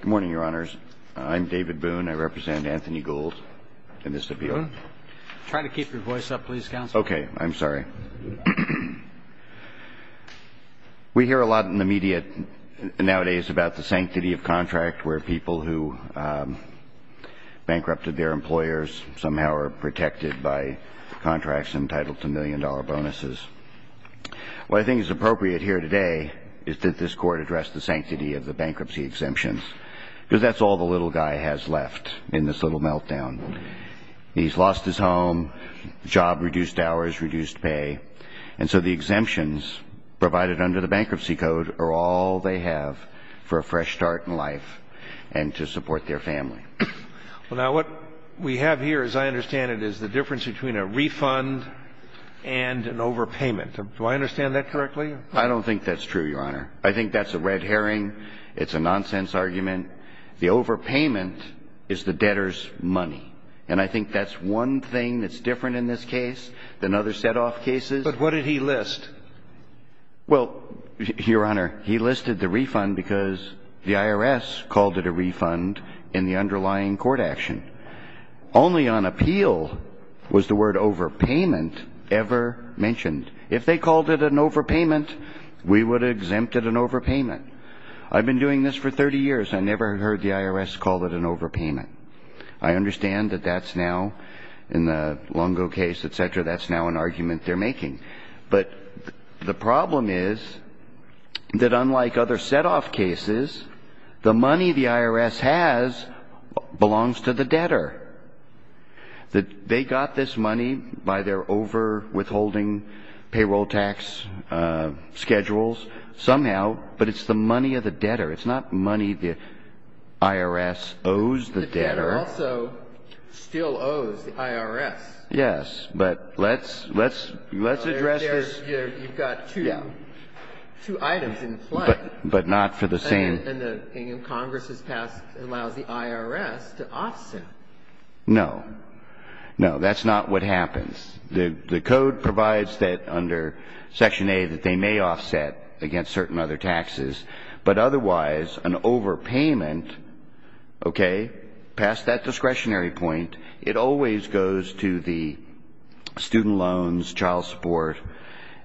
Good morning, Your Honors. I'm David Boone. I represent Anthony Gould in this appeal. Go ahead. Try to keep your voice up, please, Counselor. Okay. I'm sorry. We hear a lot in the media nowadays about the sanctity of contract where people who bankrupted their employers somehow are protected by contracts entitled to million dollar bonuses. What I think is appropriate here today is that this Court addressed the sanctions, because that's all the little guy has left in this little meltdown. He's lost his home, job reduced hours, reduced pay. And so the exemptions provided under the bankruptcy code are all they have for a fresh start in life and to support their family. Well, now, what we have here, as I understand it, is the difference between a refund and an overpayment. Do I understand that correctly? I don't think that's true, Your Honor. I think that's a red herring. It's a nonsense argument. The overpayment is the debtor's money. And I think that's one thing that's different in this case than other set-off cases. But what did he list? Well, Your Honor, he listed the refund because the IRS called it a refund in the underlying court action. Only on appeal was the word overpayment ever mentioned. If they called it an overpayment, we would have exempted an overpayment. I've been doing this for 30 years. I never heard the IRS call it an overpayment. I understand that that's now in the Lungo case, et cetera, that's now an argument they're making. But the problem is that unlike other set-off cases, the money the IRS has belongs to the debtor. It's not the money the IRS owes the debtor. The debtor also still owes the IRS. Yes. But let's address this. You've got two items in play. But not for the same. And Congress has passed, allows the IRS to offset. No. No, that's not what happens. The code provides that under Section A that they may offset against certain other taxes. But otherwise, an overpayment, okay, past that discretionary point, it always goes to the student loans, child support,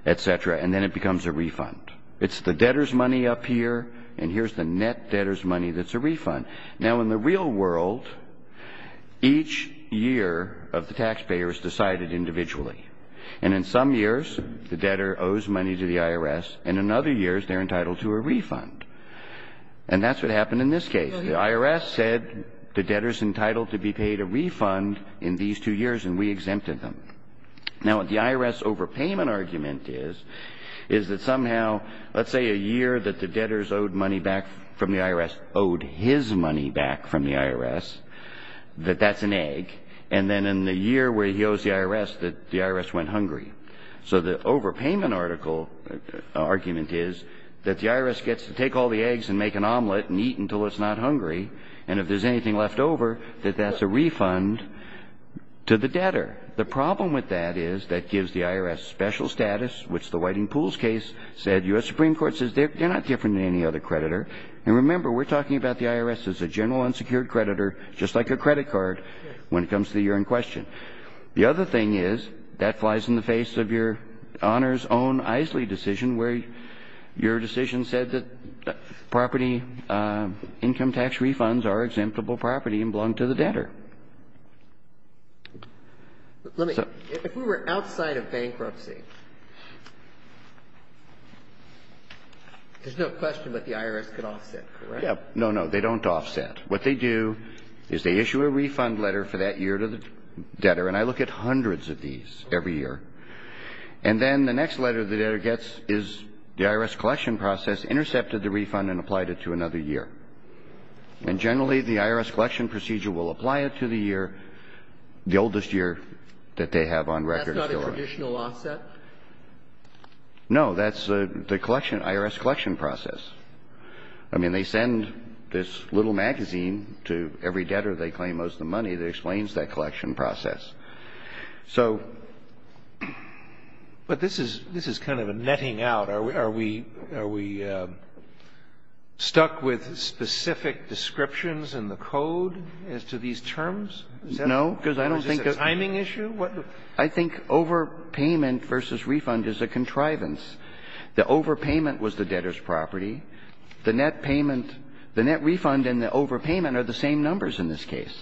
et cetera, and then it becomes a refund. It's the debtor's money up here, and here's the net debtor's money that's a refund. Now, in the real world, each year of the taxpayers decided individually. And in some years, the debtor owes money to the IRS, and in other years, they're entitled to a refund. And that's what happened in this case. The IRS said the debtor's entitled to be paid a refund in these two years, and we exempted them. Now, what the IRS overpayment argument is, is that somehow, let's say a year that the debtors owed money back from the IRS owed his money back from the IRS, that that's an egg. And then in the year where he owes the IRS, that the IRS went hungry. So the overpayment argument is that the IRS gets to take all the eggs and make an omelet and eat until it's not hungry. And if there's anything left over, that that's a refund to the debtor. The problem with that is that gives the IRS special status, which the Whiting Pools case said, U.S. Supreme Court says they're not different than any other creditor. And remember, we're talking about the IRS as a general unsecured creditor, just like a credit card, when it comes to the year in question. The other thing is, that flies in the face of Your Honor's own Isley decision, where your decision said that property income tax refunds are exemptible property and belong to the debtor. Let me. If we were outside of bankruptcy, there's no question that the IRS could offset, correct? No, no. They don't offset. What they do is they issue a refund letter for that year to the debtor. And I look at hundreds of these every year. And then the next letter the debtor gets is the IRS collection process intercepted the refund and applied it to another year. And generally, the IRS collection procedure will apply it to the year, the oldest year that they have on record. That's not a traditional offset? No. That's the collection, IRS collection process. I mean, they send this little magazine to every debtor they claim owes them money that explains that collection process. So. But this is kind of a netting out. Are we stuck with specific descriptions in the code as to these terms? No. Is this a timing issue? I think overpayment versus refund is a contrivance. The overpayment was the debtor's property. The net payment, the net refund and the overpayment are the same numbers in this case.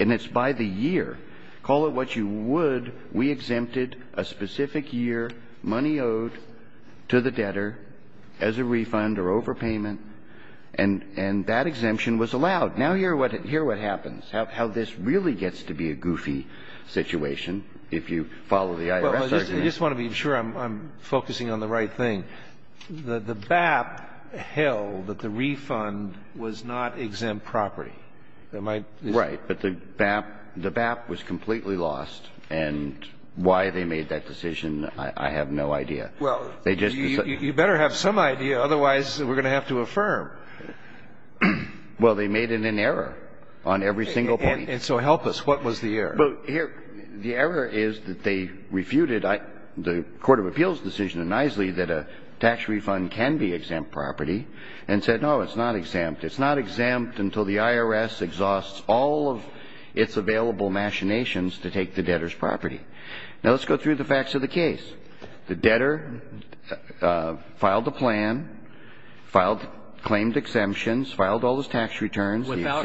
And it's by the year. Call it what you would. We exempted a specific year, money owed to the debtor as a refund or overpayment. And that exemption was allowed. Now hear what happens, how this really gets to be a goofy situation if you follow the IRS argument. I just want to be sure I'm focusing on the right thing. The BAP held that the refund was not exempt property. Right. But the BAP was completely lost. And why they made that decision, I have no idea. Well, you better have some idea, otherwise we're going to have to affirm. Well, they made it an error on every single point. And so help us. What was the error? The error is that they refuted the court of appeals decision in Eiseley that a tax refund can be exempt property and said, no, it's not exempt. It's not exempt until the IRS exhausts all of its available machinations to take the debtor's property. Now let's go through the facts of the case. The debtor filed a plan, claimed exemptions, filed all his tax returns. Without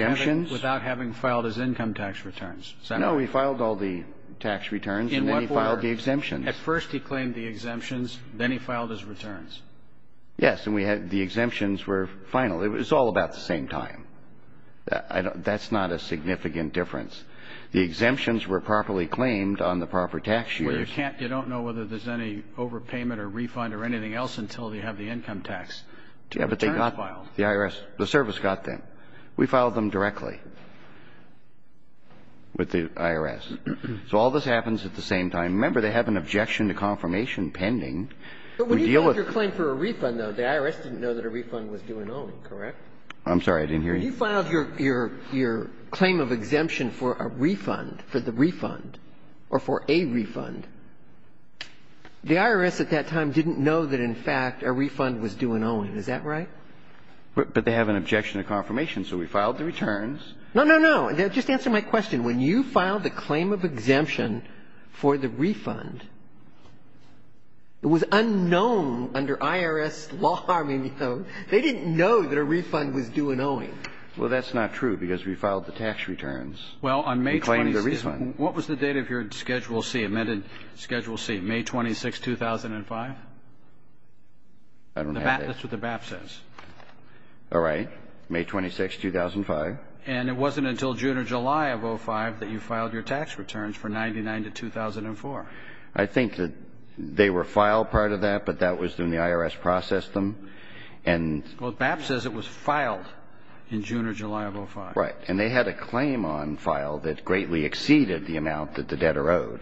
having filed his income tax returns. No, he filed all the tax returns and then he filed the exemptions. At first he claimed the exemptions, then he filed his returns. Yes. And we had the exemptions were final. It was all about the same time. That's not a significant difference. The exemptions were properly claimed on the proper tax years. Well, you can't – you don't know whether there's any overpayment or refund or anything else until you have the income tax. Yeah, but they got – the IRS, the service got them. We filed them directly. With the IRS. So all this happens at the same time. Remember, they have an objection to confirmation pending. But when you filed your claim for a refund, though, the IRS didn't know that a refund was due and owing, correct? I'm sorry. I didn't hear you. When you filed your claim of exemption for a refund, for the refund, or for a refund, the IRS at that time didn't know that, in fact, a refund was due and owing. Is that right? But they have an objection to confirmation. So we filed the returns. No, no, no. Just answer my question. When you filed the claim of exemption for the refund, it was unknown under IRS law. I mean, you know, they didn't know that a refund was due and owing. Well, that's not true because we filed the tax returns. Well, on May 26th. We claimed the refund. What was the date of your Schedule C, amended Schedule C? May 26, 2005? I don't have that. That's what the BAP says. All right. May 26, 2005. And it wasn't until June or July of 2005 that you filed your tax returns for 1999 to 2004. I think that they were filed part of that, but that was when the IRS processed them. Well, BAP says it was filed in June or July of 2005. Right. And they had a claim on file that greatly exceeded the amount that the debtor owed.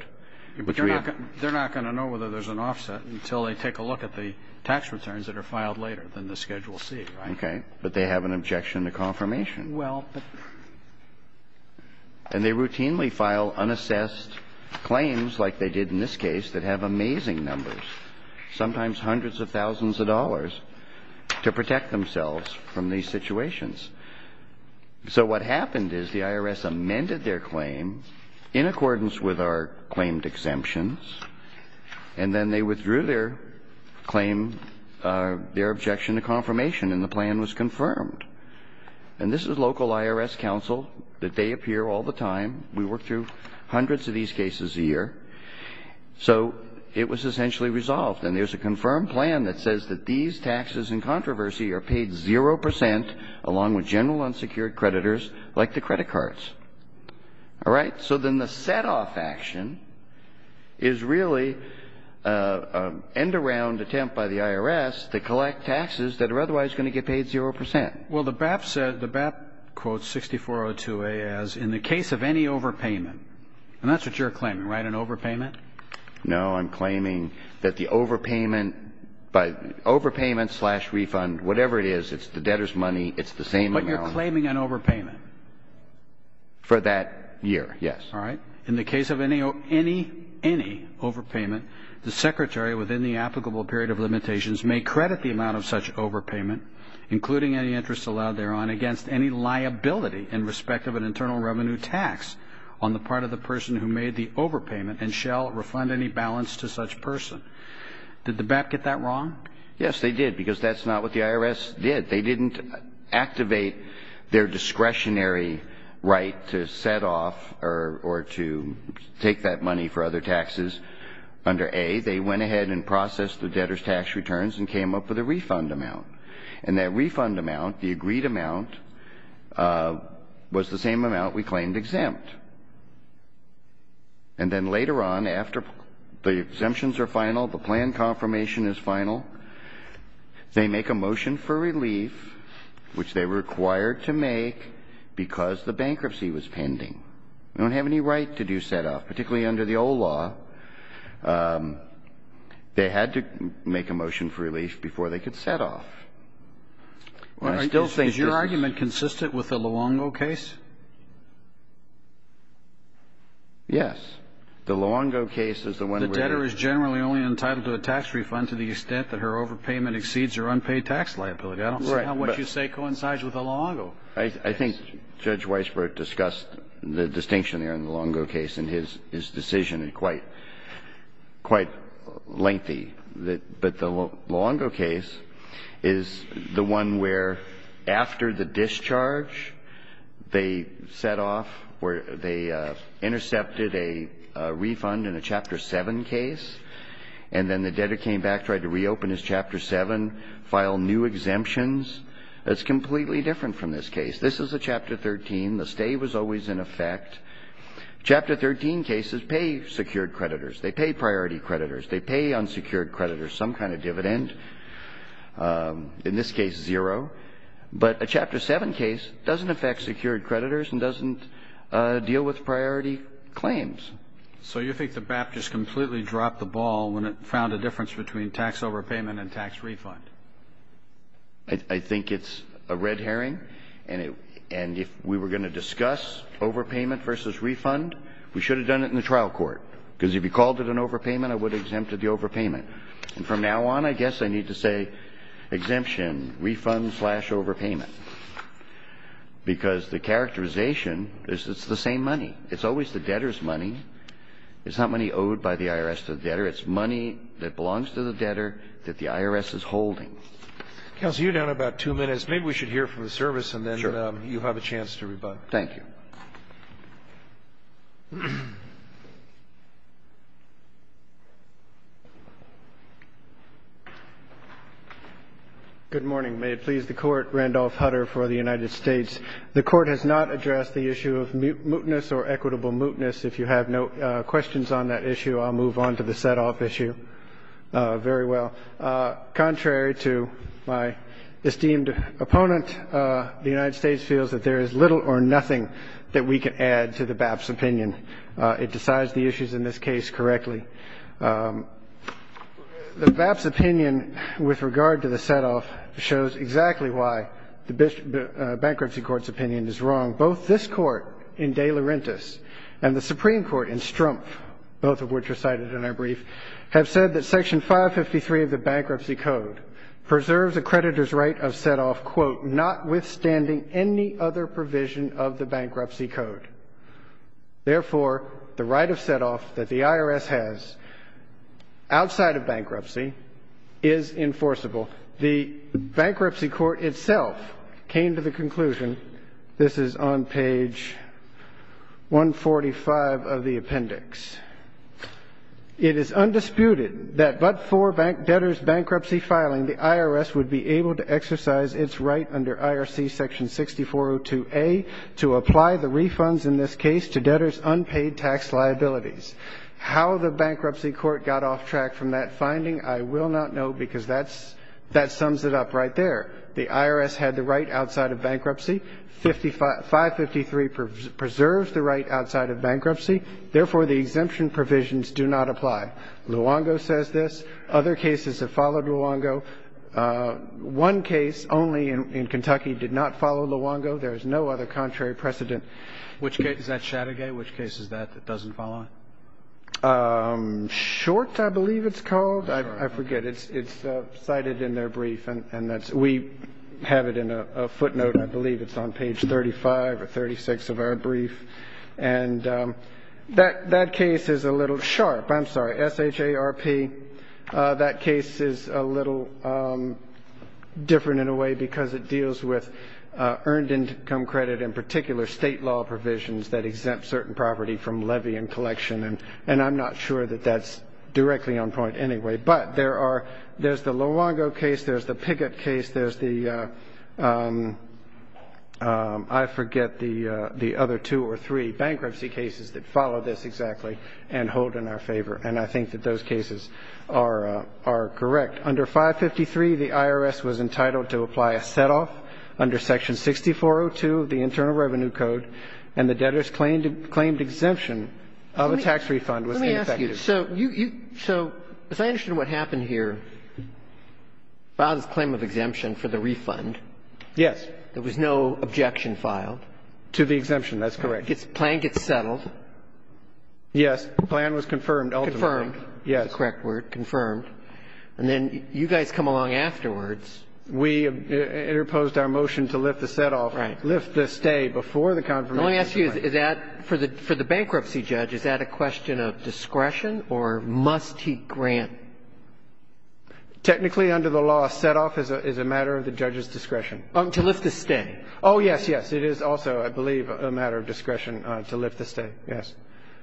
But they're not going to know whether there's an offset until they take a look at the tax returns that are filed later than the Schedule C, right? Okay. But they have an objection to confirmation. Well, but... And they routinely file unassessed claims like they did in this case that have amazing numbers, sometimes hundreds of thousands of dollars, to protect themselves from these situations. So what happened is the IRS amended their claim in accordance with our claimed exemptions, and then they withdrew their claim, their objection to confirmation, and the plan was confirmed. And this is local IRS counsel. They appear all the time. We work through hundreds of these cases a year. So it was essentially resolved. And there's a confirmed plan that says that these taxes in controversy are paid 0 percent, along with general unsecured creditors like the credit cards. All right. So then the setoff action is really an end-around attempt by the IRS to collect taxes that are otherwise going to get paid 0 percent. Well, the BAP said, the BAP quotes 6402A as, in the case of any overpayment. And that's what you're claiming, right, an overpayment? No, I'm claiming that the overpayment by overpayment slash refund, whatever it is, it's the debtor's money. It's the same amount. But you're claiming an overpayment. For that year, yes. All right. In the case of any overpayment, the secretary, within the applicable period of limitations, may credit the amount of such overpayment, including any interest allowed thereon, against any liability in respect of an internal revenue tax on the part of the person who made the overpayment and shall refund any balance to such person. Did the BAP get that wrong? Yes, they did, because that's not what the IRS did. They didn't activate their discretionary right to set off or to take that money for other taxes under A. They went ahead and processed the debtor's tax returns and came up with a refund amount. And that refund amount, the agreed amount, was the same amount we claimed exempt. And then later on, after the exemptions are final, the plan confirmation is final, they make a motion for relief, which they were required to make because the bankruptcy was pending. We don't have any right to do setoff. Particularly under the old law, they had to make a motion for relief before they could setoff. Well, I still think that's the case. Is your argument consistent with the Luongo case? Yes. The Luongo case is the one where the debtor is generally only entitled to a tax refund to the extent that her overpayment exceeds her unpaid tax liability. Right. I don't see how what you say coincides with the Luongo case. I think Judge Weisbrot discussed the distinction there in the Luongo case, and his decision is quite lengthy. But the Luongo case is the one where after the discharge, they setoff, where they intercepted a refund in a Chapter 7 case, and then the debtor came back, tried to reopen his Chapter 7, file new exemptions. It's completely different from this case. This is a Chapter 13. The stay was always in effect. Chapter 13 cases pay secured creditors. They pay priority creditors. They pay unsecured creditors some kind of dividend, in this case zero. But a Chapter 7 case doesn't affect secured creditors and doesn't deal with priority claims. So you think the BAP just completely dropped the ball when it found a difference between tax overpayment and tax refund? I think it's a red herring. And if we were going to discuss overpayment versus refund, we should have done it in the trial court, because if you called it an overpayment, it would have exempted the overpayment. And from now on, I guess I need to say exemption, refund, slash overpayment, because the characterization is it's the same money. It's always the debtor's money. It's not money owed by the IRS to the debtor. It's money that belongs to the debtor that the IRS is holding. Counsel, you're down about two minutes. Maybe we should hear from the service and then you have a chance to rebut. Thank you. Good morning. May it please the Court. Randolph Hutter for the United States. The Court has not addressed the issue of mootness or equitable mootness. If you have no questions on that issue, I'll move on to the setoff issue very well. Contrary to my esteemed opponent, the United States feels that there is little or nothing that we can add to the BAP's opinion. It decides the issues in this case correctly. The BAP's opinion with regard to the setoff shows exactly why the Bankruptcy Court's opinion is wrong. Both this Court in De Laurentiis and the Supreme Court in Strumpf, both of which are cited in our brief, have said that Section 553 of the Bankruptcy Code preserves a creditor's right of setoff, quote, notwithstanding any other provision of the Bankruptcy Code. Therefore, the right of setoff that the IRS has outside of bankruptcy is enforceable. The Bankruptcy Court itself came to the conclusion, this is on page 145 of the appendix, it is undisputed that but for debtor's bankruptcy filing, the IRS would be able to exercise its right under IRC Section 6402A to apply the refunds in this case to debtor's unpaid tax liabilities. How the Bankruptcy Court got off track from that finding, I will not know because that sums it up right there. The IRS had the right outside of bankruptcy. 553 preserves the right outside of bankruptcy. Therefore, the exemption provisions do not apply. Luongo says this. Other cases have followed Luongo. One case only in Kentucky did not follow Luongo. There is no other contrary precedent. Is that Shattergate? Which case is that that doesn't follow? Short, I believe it's called. I forget. It's cited in their brief, and we have it in a footnote. I believe it's on page 35 or 36 of our brief. And that case is a little sharp. I'm sorry, SHARP. That case is a little different in a way because it deals with earned income credit, in particular state law provisions that exempt certain property from levy and collection. And I'm not sure that that's directly on point anyway. But there's the Luongo case. There's the Pickett case. There's the other two or three bankruptcy cases that follow this exactly the same way. And I think that those cases are correct. Under 553, the IRS was entitled to apply a set-off under section 6402 of the Internal Revenue Code, and the debtor's claimed exemption of a tax refund was ineffective. Let me ask you. So as I understand what happened here, filed this claim of exemption for the refund. Yes. There was no objection filed. To the exemption. That's correct. The plan gets settled. Yes. The plan was confirmed ultimately. Confirmed. Yes. The correct word, confirmed. And then you guys come along afterwards. We interposed our motion to lift the set-off. Right. Lift the stay before the confirmation. Let me ask you, is that for the bankruptcy judge, is that a question of discretion or must he grant? Technically, under the law, a set-off is a matter of the judge's discretion. To lift the stay. Oh, yes, yes. It is also, I believe, a matter of discretion to lift the stay. Yes.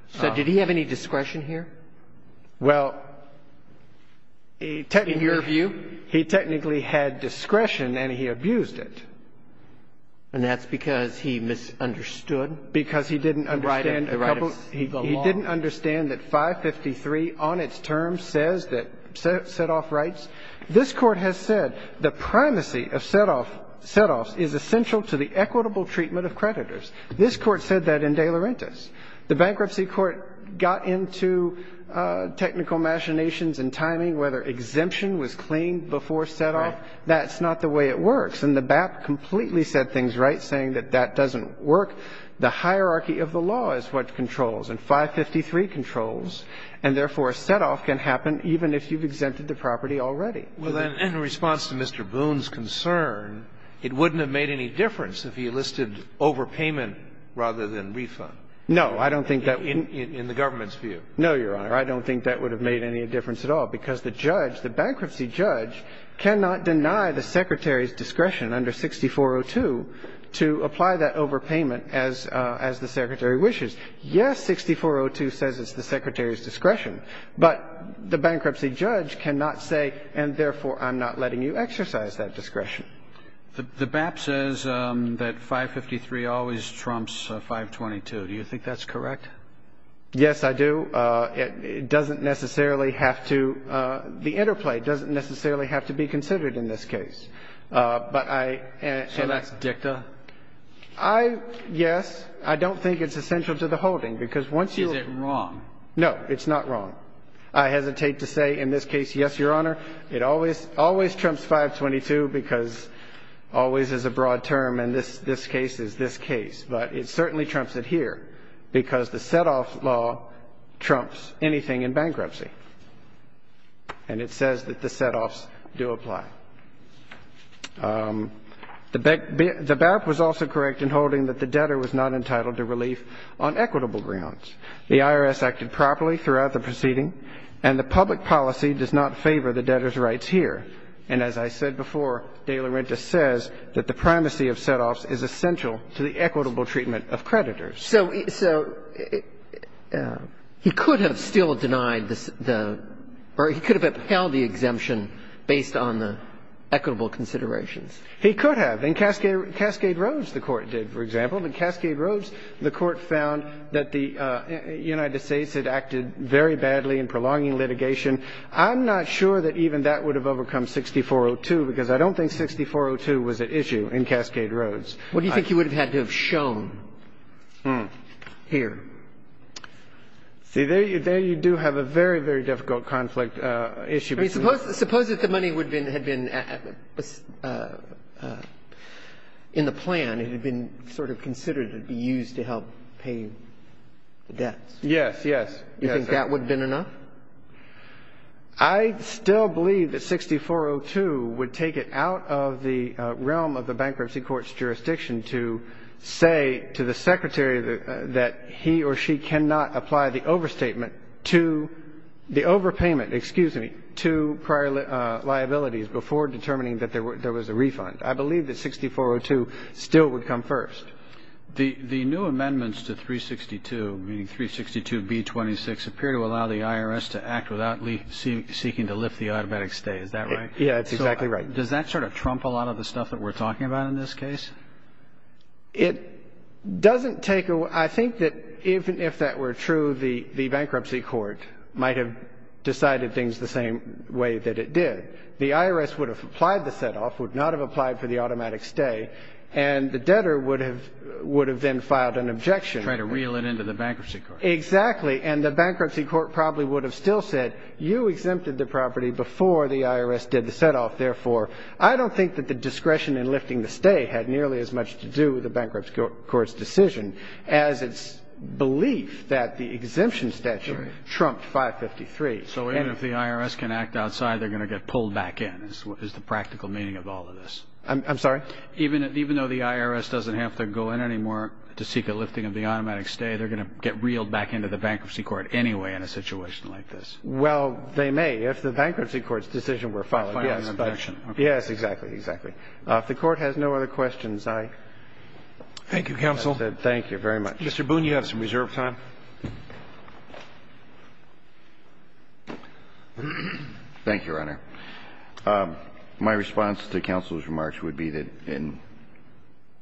So did he have any discretion here? Well, he technically had discretion and he abused it. And that's because he misunderstood the right of the law. Because he didn't understand that 553 on its term says that set-off rights. This Court has said the primacy of set-offs is essential to the equitable treatment of creditors. This Court said that in De Laurentiis. The Bankruptcy Court got into technical machinations and timing, whether exemption was claimed before set-off. That's not the way it works. And the BAP completely said things right, saying that that doesn't work. The hierarchy of the law is what controls. And 553 controls. And therefore, a set-off can happen even if you've exempted the property already. Well, then, in response to Mr. Boone's concern, it wouldn't have made any difference if he listed overpayment rather than refund. No, I don't think that would have. In the government's view. No, Your Honor. I don't think that would have made any difference at all. Because the judge, the bankruptcy judge, cannot deny the Secretary's discretion under 6402 to apply that overpayment as the Secretary wishes. Yes, 6402 says it's the Secretary's discretion. But the bankruptcy judge cannot say, and therefore I'm not letting you exercise that discretion. The BAP says that 553 always trumps 522. Do you think that's correct? Yes, I do. It doesn't necessarily have to be considered in this case. So that's dicta? Yes. I don't think it's essential to the holding. Is it wrong? No, it's not wrong. I hesitate to say in this case, yes, Your Honor. It always trumps 522 because always is a broad term and this case is this case. But it certainly trumps it here because the set-off law trumps anything in bankruptcy. And it says that the set-offs do apply. The BAP was also correct in holding that the debtor was not entitled to relief on equitable grounds. The IRS acted properly throughout the proceeding, and the public policy does not favor the debtor's rights here. And as I said before, De Laurentiis says that the primacy of set-offs is essential to the equitable treatment of creditors. So he could have still denied the or he could have upheld the exemption based on the equitable considerations. He could have. In Cascade Roads the Court did, for example. In Cascade Roads the Court found that the United States had acted very badly in prolonging litigation. I'm not sure that even that would have overcome 6402 because I don't think 6402 was at issue in Cascade Roads. What do you think he would have had to have shown here? See, there you do have a very, very difficult conflict issue. I mean, suppose if the money had been in the plan, it had been sort of considered to be used to help pay the debts. Yes, yes. You think that would have been enough? I still believe that 6402 would take it out of the realm of the Bankruptcy Court's jurisdiction to say to the Secretary that he or she cannot apply the overstatement to the overpayment, excuse me, to prior liabilities before determining that there was a refund. I believe that 6402 still would come first. The new amendments to 362, meaning 362B26, appear to allow the IRS to act without seeking to lift the automatic stay. Is that right? Yes, that's exactly right. Does that sort of trump a lot of the stuff that we're talking about in this case? It doesn't take a – I think that even if that were true, the Bankruptcy Court might have decided things the same way that it did. The IRS would have applied the set-off, would not have applied for the automatic stay, and the debtor would have then filed an objection. Try to reel it into the Bankruptcy Court. Exactly. And the Bankruptcy Court probably would have still said, you exempted the property before the IRS did the set-off. Therefore, I don't think that the discretion in lifting the stay had nearly as much to do with the Bankruptcy Court's decision as its belief that the exemption statute trumped 553. So even if the IRS can act outside, they're going to get pulled back in is the practical meaning of all of this. I'm sorry? Even though the IRS doesn't have to go in anymore to seek a lifting of the automatic stay, they're going to get reeled back into the Bankruptcy Court anyway in a situation like this. Well, they may if the Bankruptcy Court's decision were followed. Yes, exactly, exactly. If the Court has no other questions, I... Thank you, Counsel. Thank you very much. Mr. Boone, you have some reserved time. Thank you, Your Honor. My response to Counsel's remarks would be that in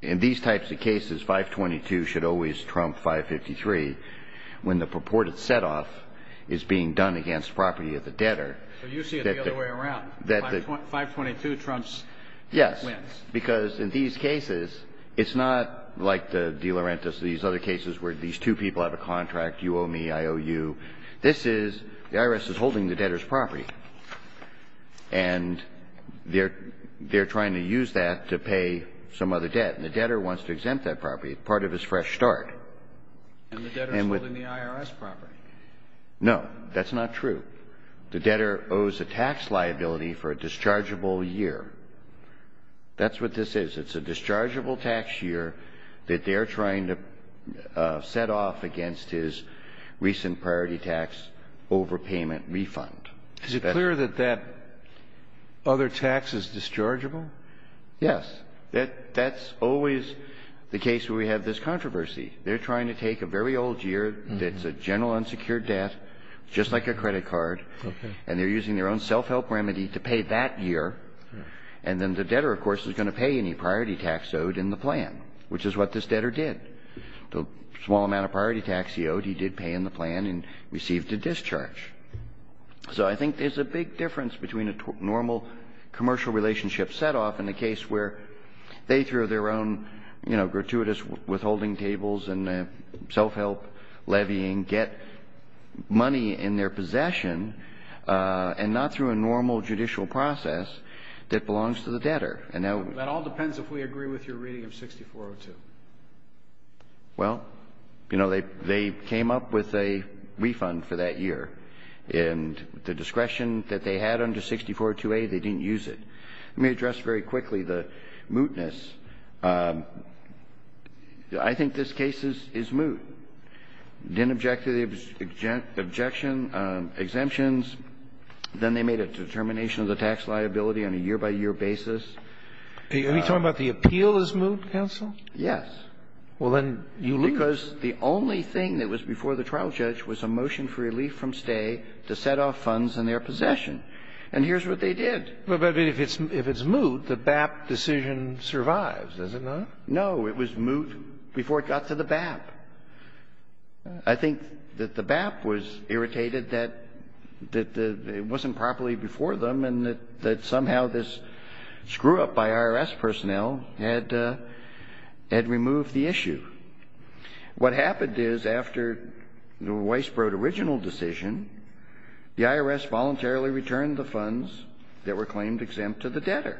these types of cases, 522 should always trump 553 when the purported set-off is being done against property of the debtor. So you see it the other way around. That the... 522 trumps... Yes. ...when? Because in these cases, it's not like the De Laurentiis or these other cases where these two people have a contract, you owe me, I owe you. This is, the IRS is holding the debtor's property. And they're trying to use that to pay some other debt. And the debtor wants to exempt that property. It's part of his fresh start. And the debtor's holding the IRS property. No. That's not true. The debtor owes a tax liability for a dischargeable year. That's what this is. It's a dischargeable tax year that they're trying to set off against his recent priority tax overpayment refund. Is it clear that that other tax is dischargeable? Yes. That's always the case where we have this controversy. They're trying to take a very old year that's a general unsecured debt, just like a credit card, and they're using their own self-help remedy to pay that year. And then the debtor, of course, is going to pay any priority tax owed in the plan, which is what this debtor did. The small amount of priority tax he owed, he did pay in the plan and received a discharge. So I think there's a big difference between a normal commercial relationship set off and a case where they threw their own, you know, gratuitous withholding cables and self-help levying, get money in their possession and not through a normal judicial process that belongs to the debtor. That all depends if we agree with your reading of 6402. Well, you know, they came up with a refund for that year. And the discretion that they had under 6402A, they didn't use it. Let me address very quickly the mootness. I think this case is moot. Didn't object to the objection, exemptions. Then they made a determination of the tax liability on a year-by-year basis. Are you talking about the appeal is moot, counsel? Yes. Well, then you lose. Because the only thing that was before the trial judge was a motion for relief from stay to set off funds in their possession. And here's what they did. But if it's moot, the BAP decision survives, does it not? No. It was moot before it got to the BAP. I think that the BAP was irritated that it wasn't properly before them and that somehow this screw-up by IRS personnel had removed the issue. What happened is after the Weisbrod original decision, the IRS voluntarily returned the funds that were claimed exempt to the debtor.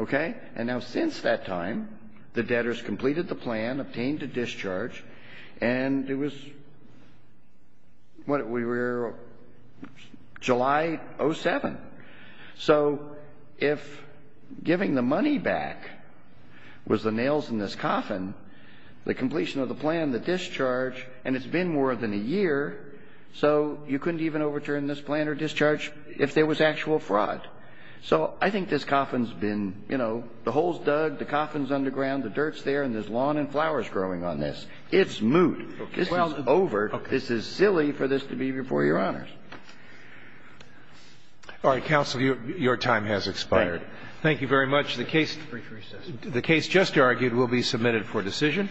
Okay? And now since that time, the debtors completed the plan, obtained a discharge, and it was, what, we were July 07. So if giving the money back was the nails in this coffin, the completion of the plan, the discharge, and it's been more than a year, so you couldn't even overturn this plan or discharge if there was actual fraud. So I think this coffin's been, you know, the hole's dug, the coffin's underground, the dirt's there, and there's lawn and flowers growing on this. It's moot. This is over. This is silly for this to be before Your Honors. All right. Counsel, your time has expired. Thank you very much. The case just argued will be submitted for decision.